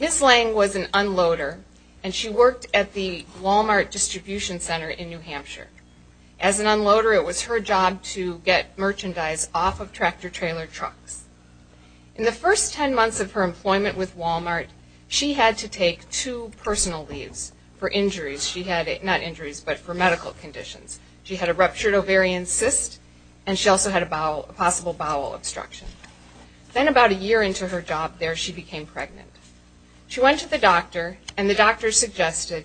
Ms. Lange was an unloader, and she worked at the Wal-Mart Distribution Center in New Hampshire. As an unloader, it was her job to get merchandise off of tractor-trailer trucks. In the first ten months of her employment with Wal-Mart, she had to take two personal leaves for injuries. She had, not injuries, but for medical conditions. She had a ruptured ovarian cyst, and she also had a possible bowel obstruction. Then about a year into her job there, she became pregnant. She went to the doctor, and the doctor suggested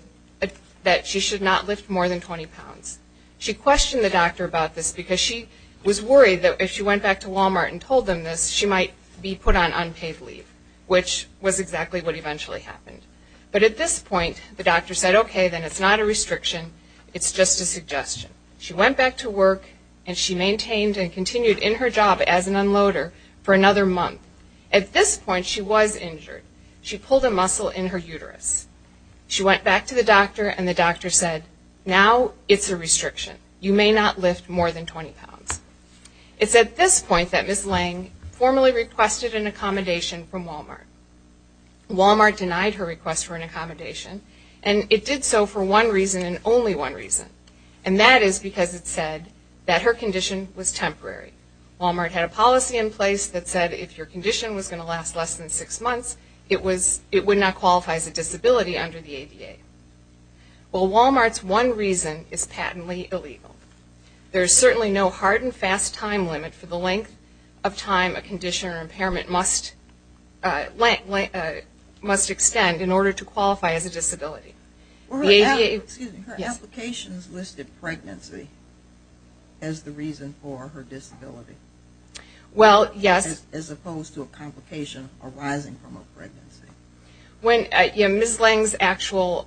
that she should not lift more than 20 pounds. She questioned the doctor about this because she was worried that if she went back to Wal-Mart and told them this, she might be put on unpaid leave, which was exactly what eventually happened. But at this point, the doctor said, okay, then it's not a restriction, it's just a suggestion. She went back to work, and she maintained and continued in her job as an unloader for another month. At this point, she was injured. She pulled a muscle in her uterus. She went back to the doctor, and the doctor said, now it's a restriction. You may not lift more than 20 pounds. It's at this point that Ms. Lange formally requested an accommodation from Wal-Mart. Wal-Mart denied her request for an accommodation, and it did so for one reason and only one reason, and that is because it said that her condition was temporary. Wal-Mart had a policy in place that said if your condition was going to last less than six months, it would not qualify as a disability under the ADA. Well, Wal-Mart's one reason is patently illegal. There is certainly no hard and fast time limit for the length of time a condition or impairment must extend in order to qualify as a disability. Excuse me. Her applications listed pregnancy as the reason for her disability. Well, yes. As opposed to a complication arising from a pregnancy. Ms. Lange's actual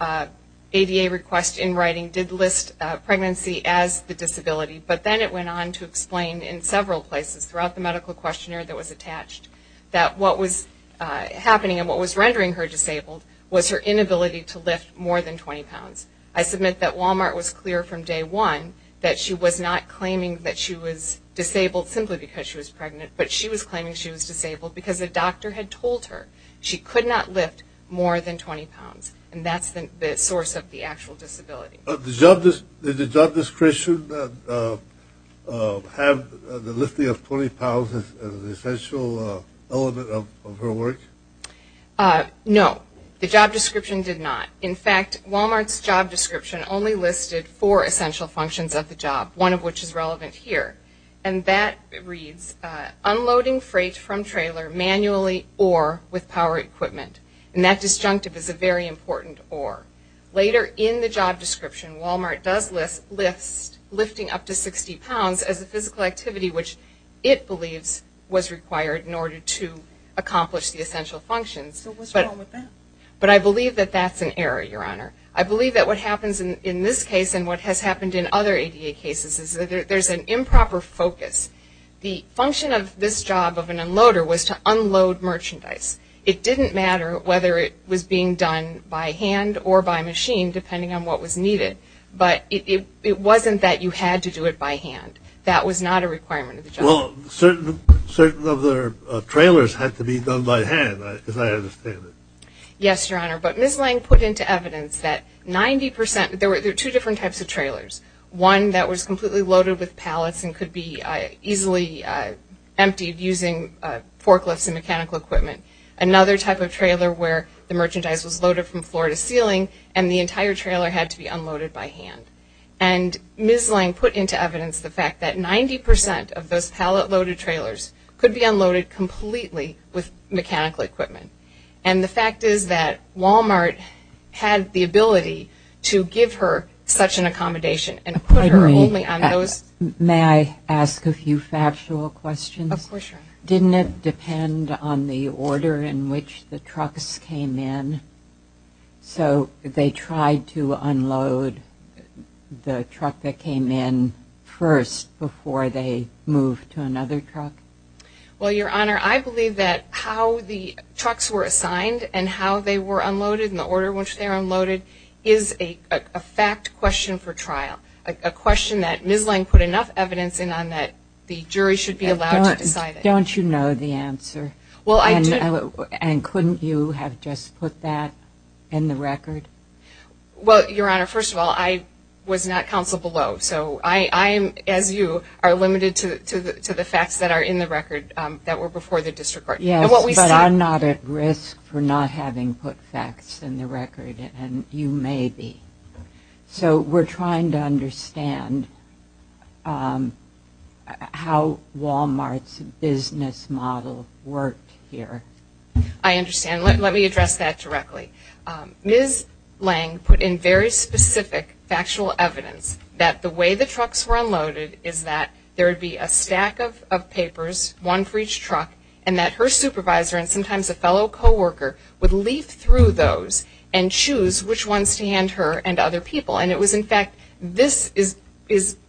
ADA request in writing did list pregnancy as the disability, but then it went on to explain in several places throughout the medical questionnaire that was attached that what was happening and what was rendering her disabled was her inability to lift more than 20 pounds. I submit that Wal-Mart was clear from day one that she was not claiming that she was disabled simply because she was pregnant, but she was claiming she was disabled because a doctor had told her she could not lift more than 20 pounds, and that's the source of the actual disability. Did the job description have the lifting of 20 pounds as an essential element of her work? No. The job description did not. In fact, Wal-Mart's job description only listed four essential functions of the job, one of which is relevant here, and that reads unloading freight from trailer manually or with power equipment, and that disjunctive is a very important or. Later in the job description, Wal-Mart does list lifting up to 60 pounds as a physical activity, which it believes was required in order to accomplish the essential functions. So what's wrong with that? But I believe that that's an error, Your Honor. I believe that what happens in this case and what has happened in other ADA cases is that there's an improper focus. The function of this job of an unloader was to unload merchandise. It didn't matter whether it was being done by hand or by machine, depending on what was needed, but it wasn't that you had to do it by hand. That was not a requirement of the job. Well, certain of their trailers had to be done by hand, as I understand it. Yes, Your Honor. But Ms. Lang put into evidence that 90 percent, there were two different types of trailers, one that was completely loaded with pallets and could be easily emptied using forklifts and mechanical equipment, another type of trailer where the merchandise was loaded from floor to ceiling and the entire trailer had to be unloaded by hand. And Ms. Lang put into evidence the fact that 90 percent of those pallet-loaded trailers could be unloaded completely with mechanical equipment. And the fact is that Walmart had the ability to give her such an accommodation and put her only on those. May I ask a few factual questions? Of course, Your Honor. Didn't it depend on the order in which the trucks came in? So they tried to unload the truck that came in first before they moved to another truck? Well, Your Honor, I believe that how the trucks were assigned and how they were unloaded and the order in which they were unloaded is a fact question for trial, a question that Ms. Lang put enough evidence in on that the jury should be allowed to decide. Don't you know the answer? Well, I do. And couldn't you have just put that in the record? Well, Your Honor, first of all, I was not counsel below. So I, as you, are limited to the facts that are in the record that were before the district court. Yes, but I'm not at risk for not having put facts in the record, and you may be. So we're trying to understand how Walmart's business model worked here. I understand. Let me address that directly. Ms. Lang put in very specific factual evidence that the way the trucks were unloaded is that there would be a stack of papers, one for each truck, and that her supervisor and sometimes a fellow co-worker would leaf through those and choose which ones to hand her and other people. And it was, in fact, this is,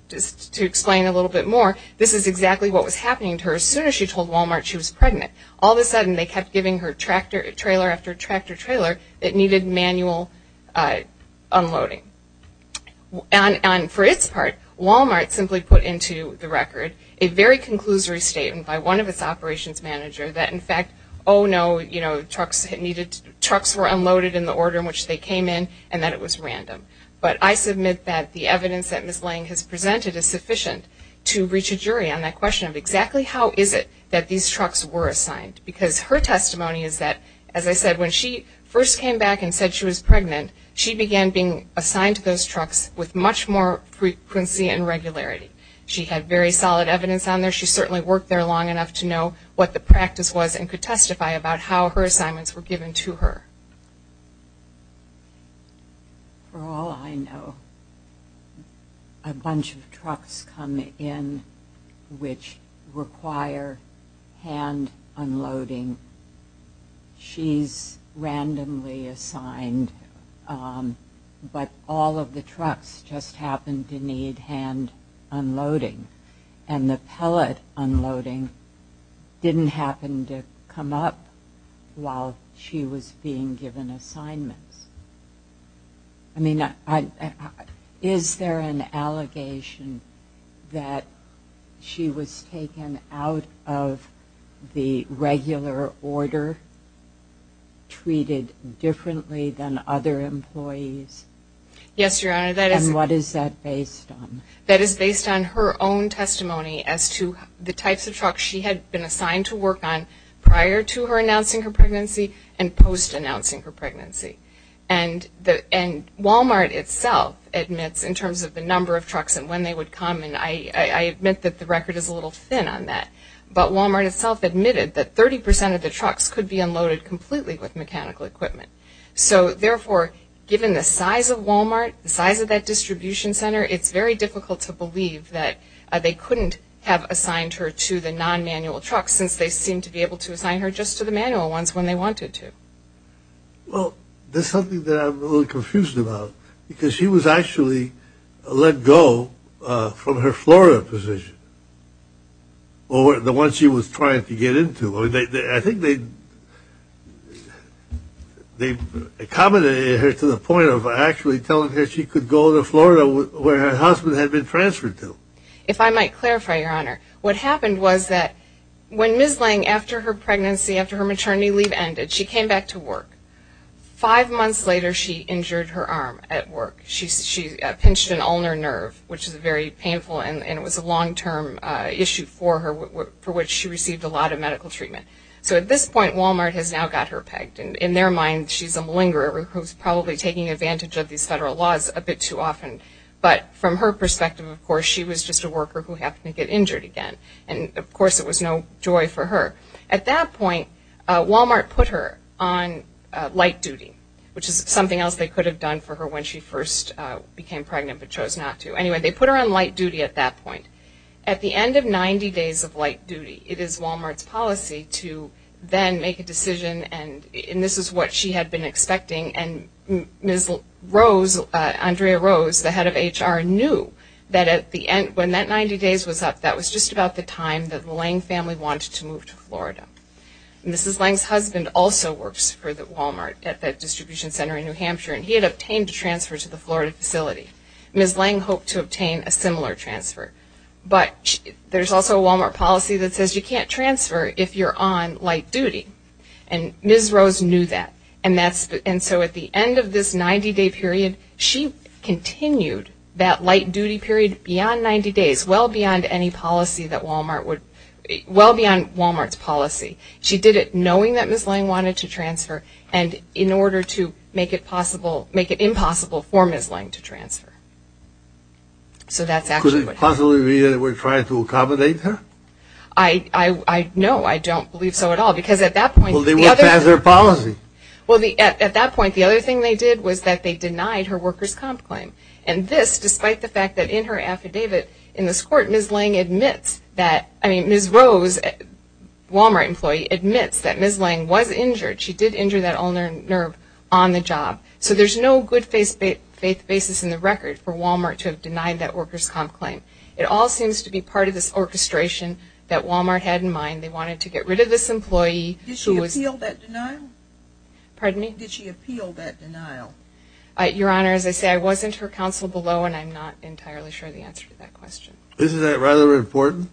just to explain a little bit more, this is exactly what was happening to her as soon as she told Walmart she was pregnant. All of a sudden they kept giving her tractor trailer after tractor trailer that needed manual unloading. And for its part, Walmart simply put into the record a very conclusory statement by one of its operations managers that, in fact, oh, no, you know, trucks were unloaded in the order in which they came in and that it was random. But I submit that the evidence that Ms. Lang has presented is sufficient to reach a jury on that question of exactly how is it that these trucks were assigned. Because her testimony is that, as I said, when she first came back and said she was pregnant, she began being assigned to those trucks with much more frequency and regularity. She had very solid evidence on there. She certainly worked there long enough to know what the practice was and could testify about how her assignments were given to her. For all I know, a bunch of trucks come in which require hand unloading. She's randomly assigned, but all of the trucks just happen to need hand unloading. And the pellet unloading didn't happen to come up while she was being given assignments. I mean, is there an allegation that she was taken out of the regular order, treated differently than other employees? Yes, Your Honor. And what is that based on? That is based on her own testimony as to the types of trucks she had been assigned to work on prior to her announcing her pregnancy and post-announcing her pregnancy. And Wal-Mart itself admits in terms of the number of trucks and when they would come, and I admit that the record is a little thin on that, but Wal-Mart itself admitted that 30 percent of the trucks could be unloaded completely with mechanical equipment. So therefore, given the size of Wal-Mart, the size of that distribution center, it's very difficult to believe that they couldn't have assigned her to the non-manual trucks since they seemed to be able to assign her just to the manual ones when they wanted to. Well, that's something that I'm a little confused about because she was actually let go from her Florida position, the one she was trying to get into. I think they accommodated her to the point of actually telling her she could go to Florida where her husband had been transferred to. If I might clarify, Your Honor, what happened was that when Ms. Lange, after her pregnancy, after her maternity leave ended, she came back to work. Five months later, she injured her arm at work. She pinched an ulnar nerve, which is very painful, and it was a long-term issue for her for which she received a lot of medical treatment. So at this point, Wal-Mart has now got her pegged. In their mind, she's a malingerer who's probably taking advantage of these federal laws a bit too often. But from her perspective, of course, she was just a worker who happened to get injured again. Of course, it was no joy for her. At that point, Wal-Mart put her on light duty, which is something else they could have done for her when she first became pregnant but chose not to. Anyway, they put her on light duty at that point. At the end of 90 days of light duty, it is Wal-Mart's policy to then make a decision and this is what she had been expecting. And Ms. Rose, Andrea Rose, the head of HR, knew that when that 90 days was up, that was just about the time that the Lange family wanted to move to Florida. Mrs. Lange's husband also works for Wal-Mart at that distribution center in New Hampshire, and he had obtained a transfer to the Florida facility. Ms. Lange hoped to obtain a similar transfer. But there's also a Wal-Mart policy that says you can't transfer if you're on light duty. And Ms. Rose knew that. And so at the end of this 90-day period, she continued that light duty period beyond 90 days, well beyond any policy that Wal-Mart would – well beyond Wal-Mart's policy. She did it knowing that Ms. Lange wanted to transfer and in order to make it impossible for Ms. Lange to transfer. So that's actually what happened. Could it possibly be that they were trying to accommodate her? No, I don't believe so at all because at that point – Well, they went past their policy. Well, at that point, the other thing they did was that they denied her worker's comp claim. And this, despite the fact that in her affidavit in this court, Ms. Lange admits that – I mean, Ms. Rose, a Wal-Mart employee, admits that Ms. Lange was injured. She did injure that ulnar nerve on the job. So there's no good faith basis in the record for Wal-Mart to have denied that worker's comp claim. It all seems to be part of this orchestration that Wal-Mart had in mind. They wanted to get rid of this employee who was – Did she appeal that denial? Pardon me? Did she appeal that denial? Your Honor, as I say, I wasn't her counsel below, and I'm not entirely sure the answer to that question. Isn't that rather important?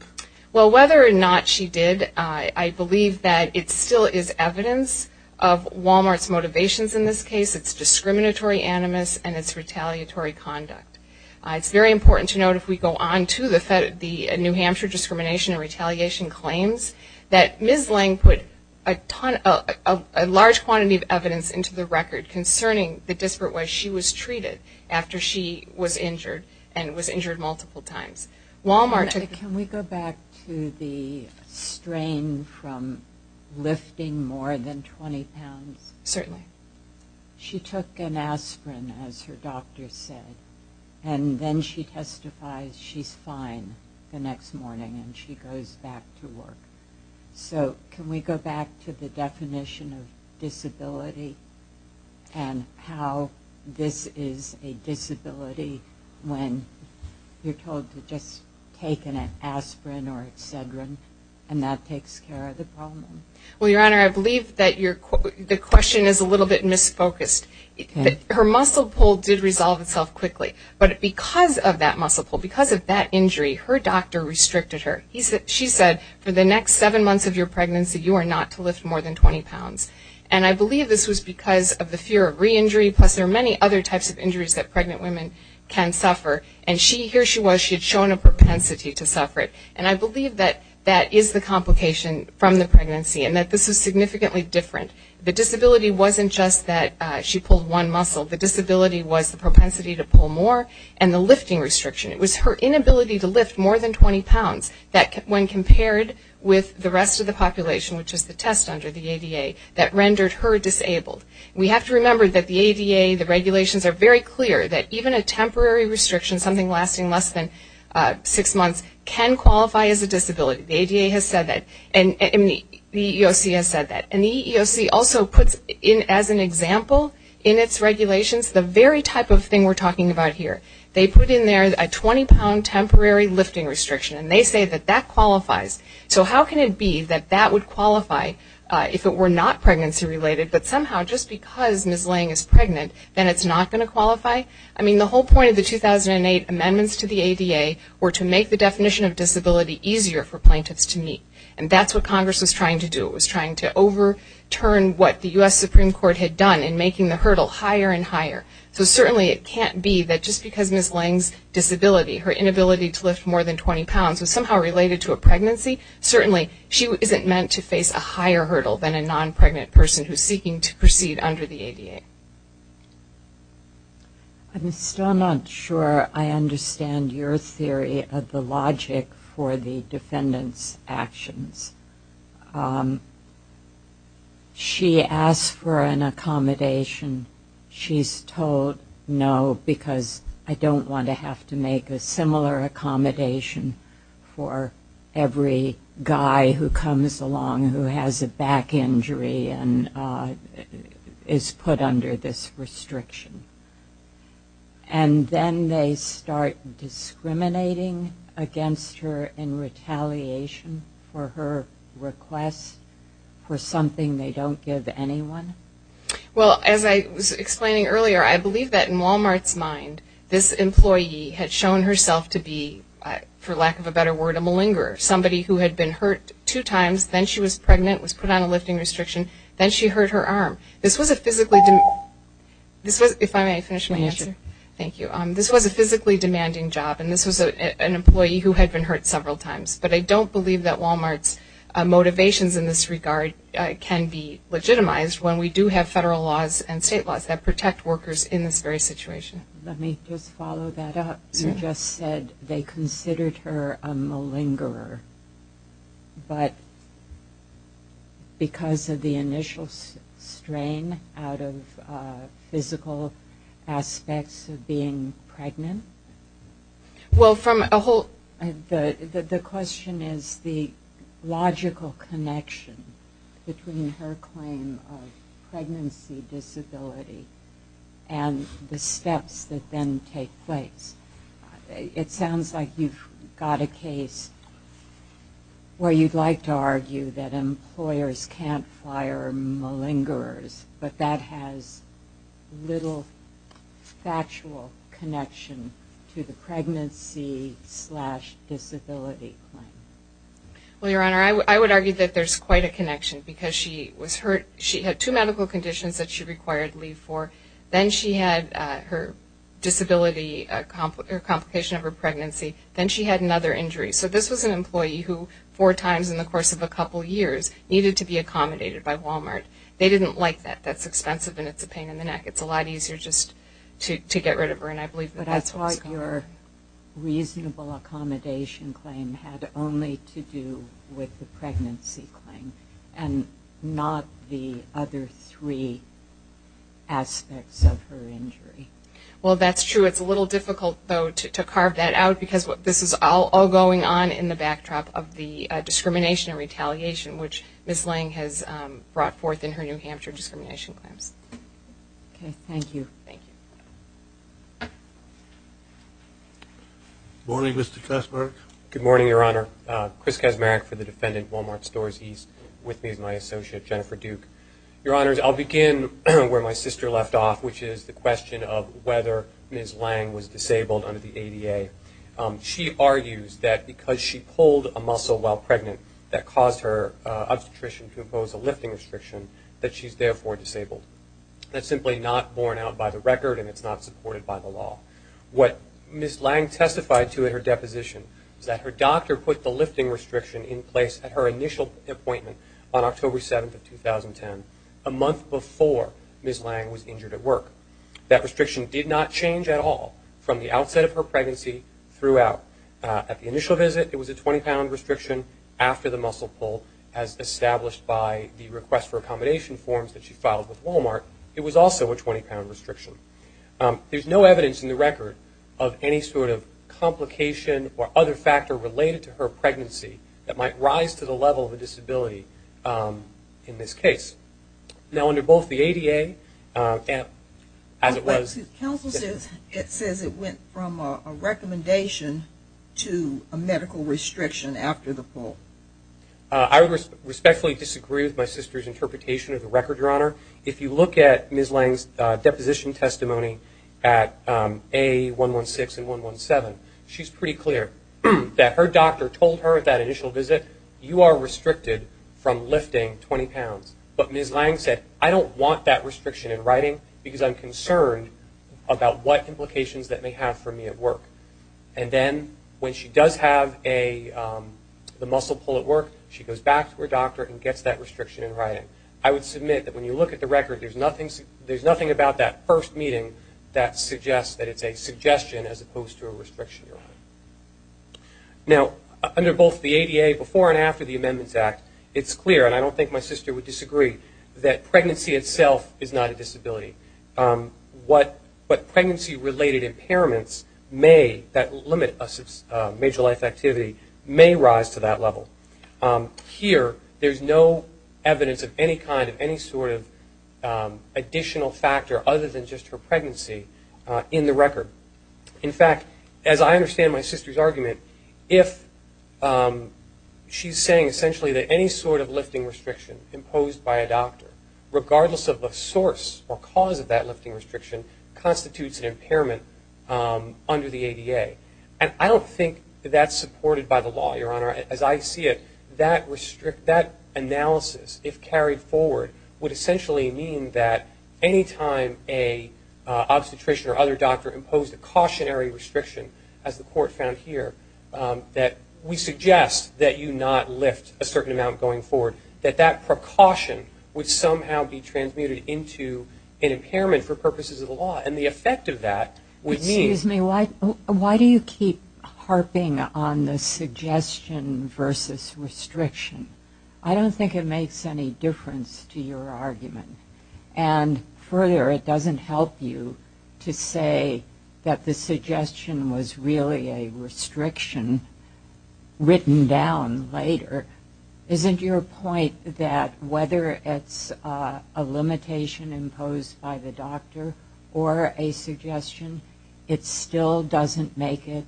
Well, whether or not she did, I believe that it still is evidence of Wal-Mart's motivations in this case. It's discriminatory animus, and it's retaliatory conduct. It's very important to note, if we go on to the New Hampshire discrimination and retaliation claims, that Ms. Lange put a large quantity of evidence into the record concerning the disparate way she was treated after she was injured and was injured multiple times. Wal-Mart took – Can we go back to the strain from lifting more than 20 pounds? Certainly. She took an aspirin, as her doctor said, and then she testifies she's fine the next morning, and she goes back to work. So can we go back to the definition of disability and how this is a disability when you're told to just take an aspirin or Excedrin, and that takes care of the problem? Well, Your Honor, I believe that the question is a little bit misfocused. Her muscle pull did resolve itself quickly, but because of that muscle pull, because of that injury, her doctor restricted her. She said, for the next seven months of your pregnancy, you are not to lift more than 20 pounds. And I believe this was because of the fear of reinjury, plus there are many other types of injuries that pregnant women can suffer, and here she was, she had shown a propensity to suffer it. And I believe that that is the complication from the pregnancy and that this is significantly different. The disability wasn't just that she pulled one muscle. The disability was the propensity to pull more and the lifting restriction. It was her inability to lift more than 20 pounds that when compared with the rest of the population, which is the test under the ADA, that rendered her disabled. We have to remember that the ADA, the regulations are very clear that even a temporary restriction, something lasting less than six months, can qualify as a disability. The ADA has said that, and the EEOC has said that. And the EEOC also puts in, as an example, in its regulations, the very type of thing we're talking about here. They put in there a 20-pound temporary lifting restriction, and they say that that qualifies. So how can it be that that would qualify if it were not pregnancy-related, but somehow just because Ms. Lang is pregnant, then it's not going to qualify? I mean, the whole point of the 2008 amendments to the ADA were to make the definition of disability easier for plaintiffs to meet. And that's what Congress was trying to do. It was trying to overturn what the U.S. Supreme Court had done in making the hurdle higher and higher. So certainly it can't be that just because Ms. Lang's disability, her inability to lift more than 20 pounds, was somehow related to a pregnancy, certainly she isn't meant to face a higher hurdle than a non-pregnant person who is seeking to proceed under the ADA. I'm still not sure I understand your theory of the logic for the defendant's actions. She asked for an accommodation. She's told no, because I don't want to have to make a similar accommodation for every guy who comes along who has a back injury and is put under this restriction. And then they start discriminating against her in retaliation for her request for something they don't give anyone? Well, as I was explaining earlier, I believe that in Walmart's mind, this employee had shown herself to be, for lack of a better word, a malingerer. Somebody who had been hurt two times, then she was pregnant, was put on a lifting restriction, then she hurt her arm. This was a physically demanding job, and this was an employee who had been hurt several times. But I don't believe that Walmart's motivations in this regard can be legitimized when we do have federal laws and state laws that protect workers in this very situation. Let me just follow that up. You just said they considered her a malingerer, but because of the initial strain out of physical aspects of being pregnant? Well, from a whole... The question is the logical connection between her claim of pregnancy disability and the steps that then take place. It sounds like you've got a case where you'd like to argue that employers can't fire malingerers, but that has little factual connection to the pregnancy disability claim. Well, Your Honor, I would argue that there's quite a connection, because she had two medical conditions that she required leave for. Then she had her disability, her complication of her pregnancy. Then she had another injury. So this was an employee who, four times in the course of a couple years, needed to be accommodated by Walmart. They didn't like that. That's expensive, and it's a pain in the neck. It's a lot easier just to get rid of her, and I believe that that's what was going on. But that's why your reasonable accommodation claim had only to do with the pregnancy claim and not the other three aspects of her injury. Well, that's true. It's a little difficult, though, to carve that out, because this is all going on in the backdrop of the discrimination and retaliation which Ms. Lang has brought forth in her New Hampshire discrimination claims. Okay, thank you. Morning, Mr. Kaczmarek. Good morning, Your Honor. Chris Kaczmarek for the defendant, Walmart Stores East. With me is my associate, Jennifer Duke. Your Honors, I'll begin where my sister left off, which is the question of whether Ms. Lang was disabled under the ADA. She argues that because she pulled a muscle while pregnant that caused her obstetrician to impose a lifting restriction that she's therefore disabled. That's simply not borne out by the record, and it's not supported by the law. What Ms. Lang testified to in her deposition is that her doctor put the lifting restriction in place at her initial appointment on October 7, 2010, a month before Ms. Lang was injured at work. That restriction did not change at all from the outset of her pregnancy throughout. At the initial visit, it was a 20-pound restriction after the muscle pull as established by the request for accommodation forms that she filed with Walmart. It was also a 20-pound restriction. There's no evidence in the record of any sort of complication or other factor related to her pregnancy that might rise to the level of a disability in this case. Now, under both the ADA and as it was... Counsel says it went from a recommendation to a medical restriction after the pull. I respectfully disagree with my sister's interpretation of the record, Your Honor. If you look at Ms. Lang's deposition testimony at A116 and 117, she's pretty clear that her doctor told her at that initial visit, you are restricted from lifting 20 pounds. But Ms. Lang said, I don't want that restriction in writing because I'm concerned about what implications that may have for me at work. And then, when she does have the muscle pull at work, she goes back to her doctor and gets that restriction in writing. I would submit that when you look at the record, there's nothing about that first meeting that suggests that it's a suggestion as opposed to a restriction, Your Honor. Now, under both the ADA before and after the Amendments Act, it's clear, and I don't think my sister would disagree, that pregnancy itself is not a disability. What pregnancy-related impairments that limit a major life activity may rise to that level. Here, there's no evidence of any kind of any sort of additional factor other than just her pregnancy in the record. In fact, as I understand my sister's argument, if she's saying essentially that any sort of lifting restriction imposed by a doctor, regardless of the source or cause of that lifting restriction, constitutes an impairment under the ADA. And I don't think that's supported by the law, Your Honor. As I see it, that analysis, if carried forward, would essentially mean that any time an obstetrician or other doctor imposed a cautionary restriction, as the Court found here, that we suggest that you not lift a certain amount going forward, that that precaution would somehow be transmuted into an impairment for purposes of the law. And the effect of that would mean... Excuse me, why do you keep harping on the suggestion versus restriction? I don't think it makes any difference to your argument. And further, it doesn't help you to say that the suggestion was really a restriction written down later. Isn't your point that whether it's a limitation imposed by the doctor or a suggestion, it still doesn't make it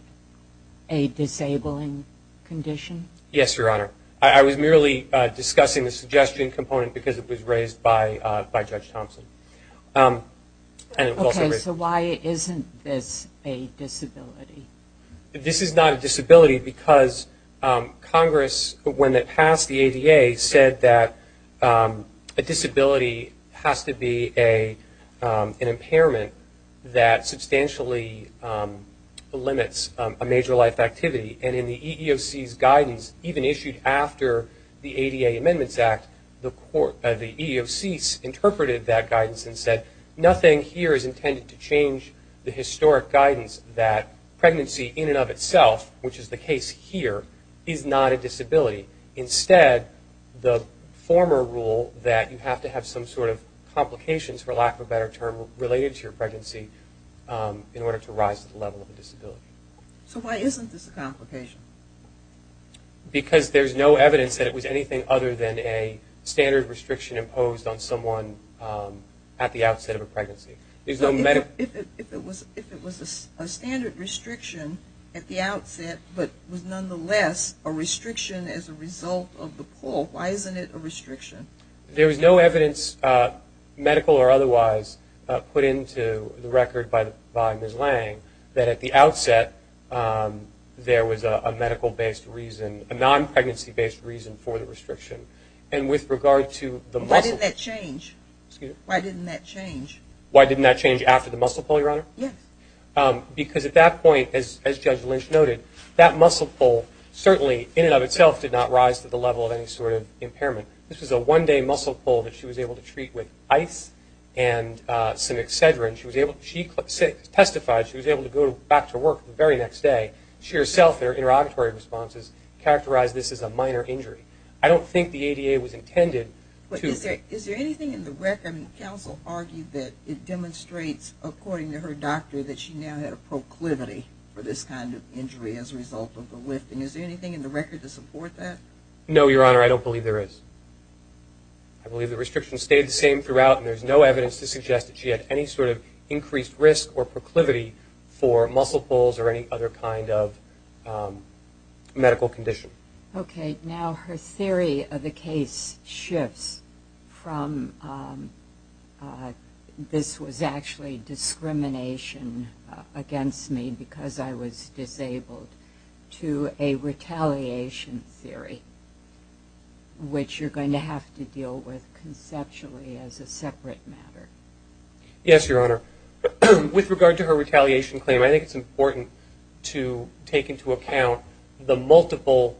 a disabling condition? Yes, Your Honor. I was merely discussing the suggestion component because it was raised by Judge Thompson. Okay, so why isn't this a disability? This is not a disability because Congress, when it passed the ADA, said that a disability has to be an impairment that substantially limits a major life activity. And in the EEOC's guidance, even issued after the ADA Amendments Act, the EEOC interpreted that guidance and said nothing here is intended to change the historic guidance that pregnancy in and of itself, which is the case here, is not a disability. Instead, the former rule that you have to have some sort of complications, for lack of a better term, related to your pregnancy in order to rise to the level of a disability. So why isn't this a complication? Because there's no evidence that it was anything other than a standard restriction imposed on someone at the outset of a pregnancy. If it was a standard restriction at the outset, but was nonetheless a restriction as a result of the pull, why isn't it a restriction? There was no evidence, medical or otherwise, put into the record by Ms. Lang that at the outset there was a medical-based reason, a non-pregnancy-based reason for the restriction. And with regard to the muscle... Why didn't that change? Why didn't that change after the muscle pull, Your Honor? Yes. Because at that point, as Judge Lynch noted, that muscle pull certainly in and of itself did not rise to the level of any sort of impairment. This was a one-day muscle pull that she was able to treat with ice and some Excedrin. She testified she was able to go back to work the very next day. She herself, in her interrogatory responses, characterized this as a minor injury. I don't think the ADA was intended to... But is there anything in the record... Counsel argued that it demonstrates, according to her doctor, that she now had a proclivity for this kind of injury as a result of the lifting. Is there anything in the record to support that? No, Your Honor, I don't believe there is. I believe the restrictions stayed the same throughout, and there's no evidence to suggest that she had any sort of increased risk or proclivity for muscle pulls or any other kind of medical condition. Okay. Now her theory of the case shifts from... This was actually discrimination against me because I was disabled to a retaliation theory, which you're going to have to deal with conceptually as a separate matter. Yes, Your Honor. With regard to her retaliation claim, I think it's important to take into account the multiple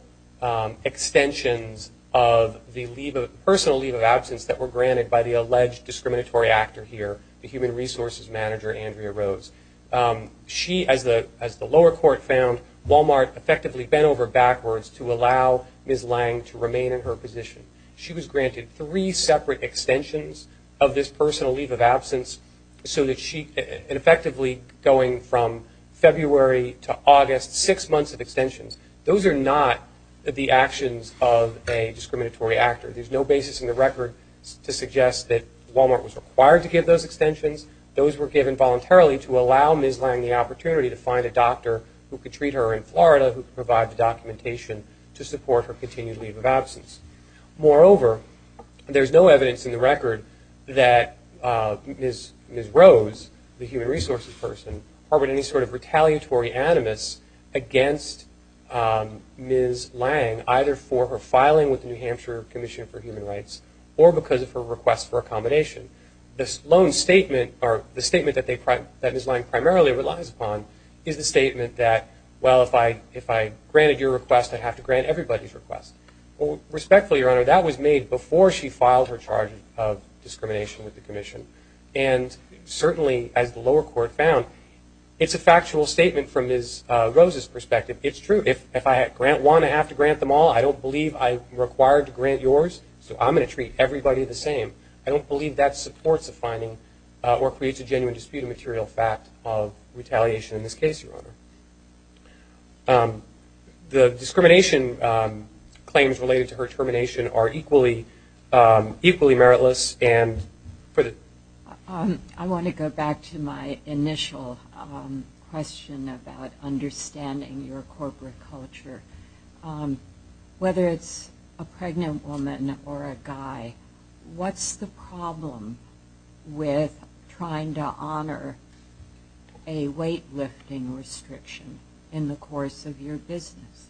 extensions of the personal leave of absence that were granted by the alleged discriminatory actor here, the human resources manager, Andrea Rose. She, as the lower court found, Walmart effectively bent over backwards to allow Ms. Lange to remain in her position. She was granted three separate extensions of this personal leave of absence and effectively going from February to August, six months of extensions. Those are not the actions of a discriminatory actor. There's no basis in the record to suggest that Walmart was required to give those extensions. Those were given voluntarily to allow Ms. Lange the opportunity to find a doctor who could treat her in Florida, who could provide the documentation to support her continued leave of absence. Moreover, there's no evidence in the record that Ms. Rose, the human resources person, or any sort of retaliatory animus against Ms. Lange either for her filing with the New Hampshire Commission for Human Rights or because of her request for accommodation. The statement that Ms. Lange primarily relies upon is the statement that, well, if I granted your request, I'd have to grant everybody's request. Respectfully, Your Honor, that was made before she filed her charge of discrimination with the commission. Certainly, as the lower court found, it's a factual statement from Ms. Rose's perspective. It's true. If I grant one, I have to grant them all. I don't believe I'm required to grant yours, so I'm going to treat everybody the same. I don't believe that supports a finding or creates a genuine dispute of material fact of retaliation in this case, Your Honor. The discrimination claims related to her termination are equally meritless. I want to go back to my initial question about understanding your corporate culture. Whether it's a pregnant woman or a guy, what's the problem with trying to honor a weightlifting restriction in the course of your business?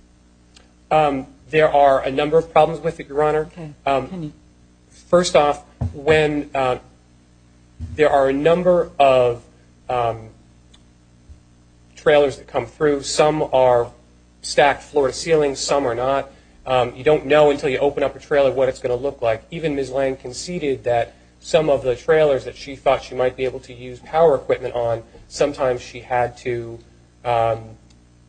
There are a number of problems with it, Your Honor. First off, there are a number of trailers that come through. Some are stacked floor to ceiling, some are not. You don't know until you open up a trailer what it's going to look like. Even Ms. Lang conceded that some of the trailers that she thought she might be able to use power equipment on, sometimes she had to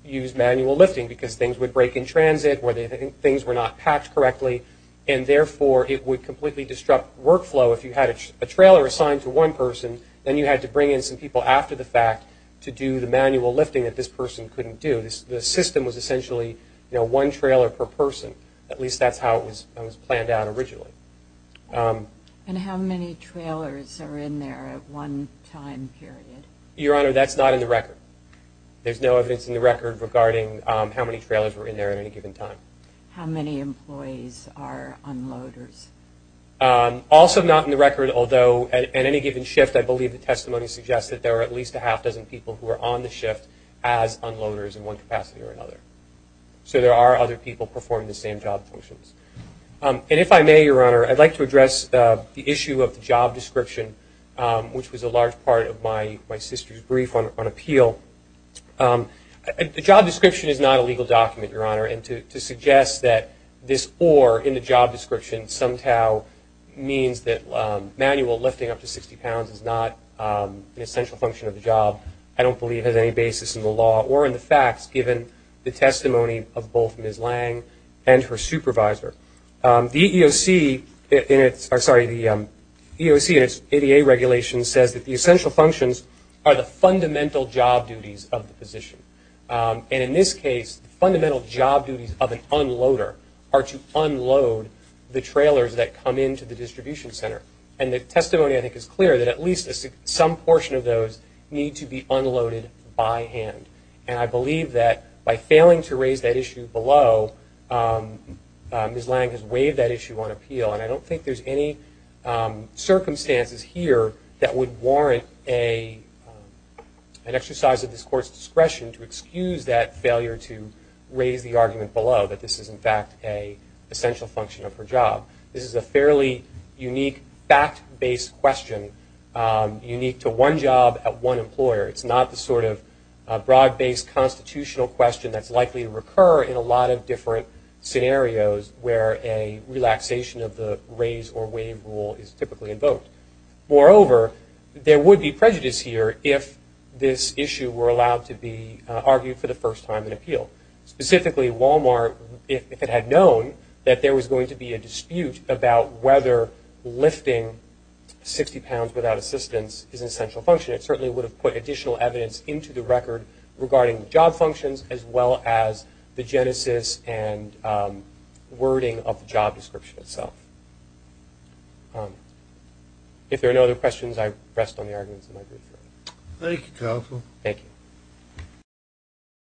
use manual lifting because things would break in transit or things were not packed correctly and therefore it would completely disrupt workflow. If you had a trailer assigned to one person, then you had to bring in some people after the fact to do the manual lifting that this person couldn't do. The system was essentially one trailer per person. At least that's how it was planned out originally. And how many trailers are in there at one time period? Your Honor, that's not in the record. There's no evidence in the record regarding how many trailers were in there at any given time. How many employees are unloaders? Also not in the record, although at any given shift, I believe the testimony suggests that there are at least a half dozen people who are on the shift as unloaders in one capacity or another. So there are other people performing the same job functions. And if I may, Your Honor, I'd like to address the issue of the job description, which was a large part of my sister's brief on appeal. The job description is not a legal document, Your Honor, and to suggest that this or in the job description is not an essential function of the job description I don't believe has any basis in the law or in the facts given the testimony of both Ms. Lang and her supervisor. The EEOC and its ADA regulation says that the essential functions are the fundamental job duties of the physician. And in this case, the fundamental job duties of an unloader are to unload the trailers that come into the distribution center. And the testimony I think is clear that at least some portion of those need to be unloaded by hand. And I believe that by failing to raise that issue below, Ms. Lang has waived that issue on appeal. And I don't think there's any circumstances here that would warrant an exercise of this Court's discretion to excuse that failure to raise the argument below that this is in fact an essential function of her job. This is a fairly unique fact-based question, unique to one job at one employer. It's not the sort of broad-based constitutional question that's likely to recur in a lot of different scenarios where a relaxation of the raise or waive rule is typically invoked. Moreover, there would be prejudice here if this issue were allowed to be argued for the first time in appeal. Specifically, Wal-Mart, if it had known that there was going to be a dispute about whether lifting 60 pounds would apply to the amount of assistance is an essential function, it certainly would have put additional evidence into the record regarding job functions as well as the genesis and wording of the job description itself. If there are no other questions, I rest on the arguments in my brief. Thank you, Counsel. Thank you.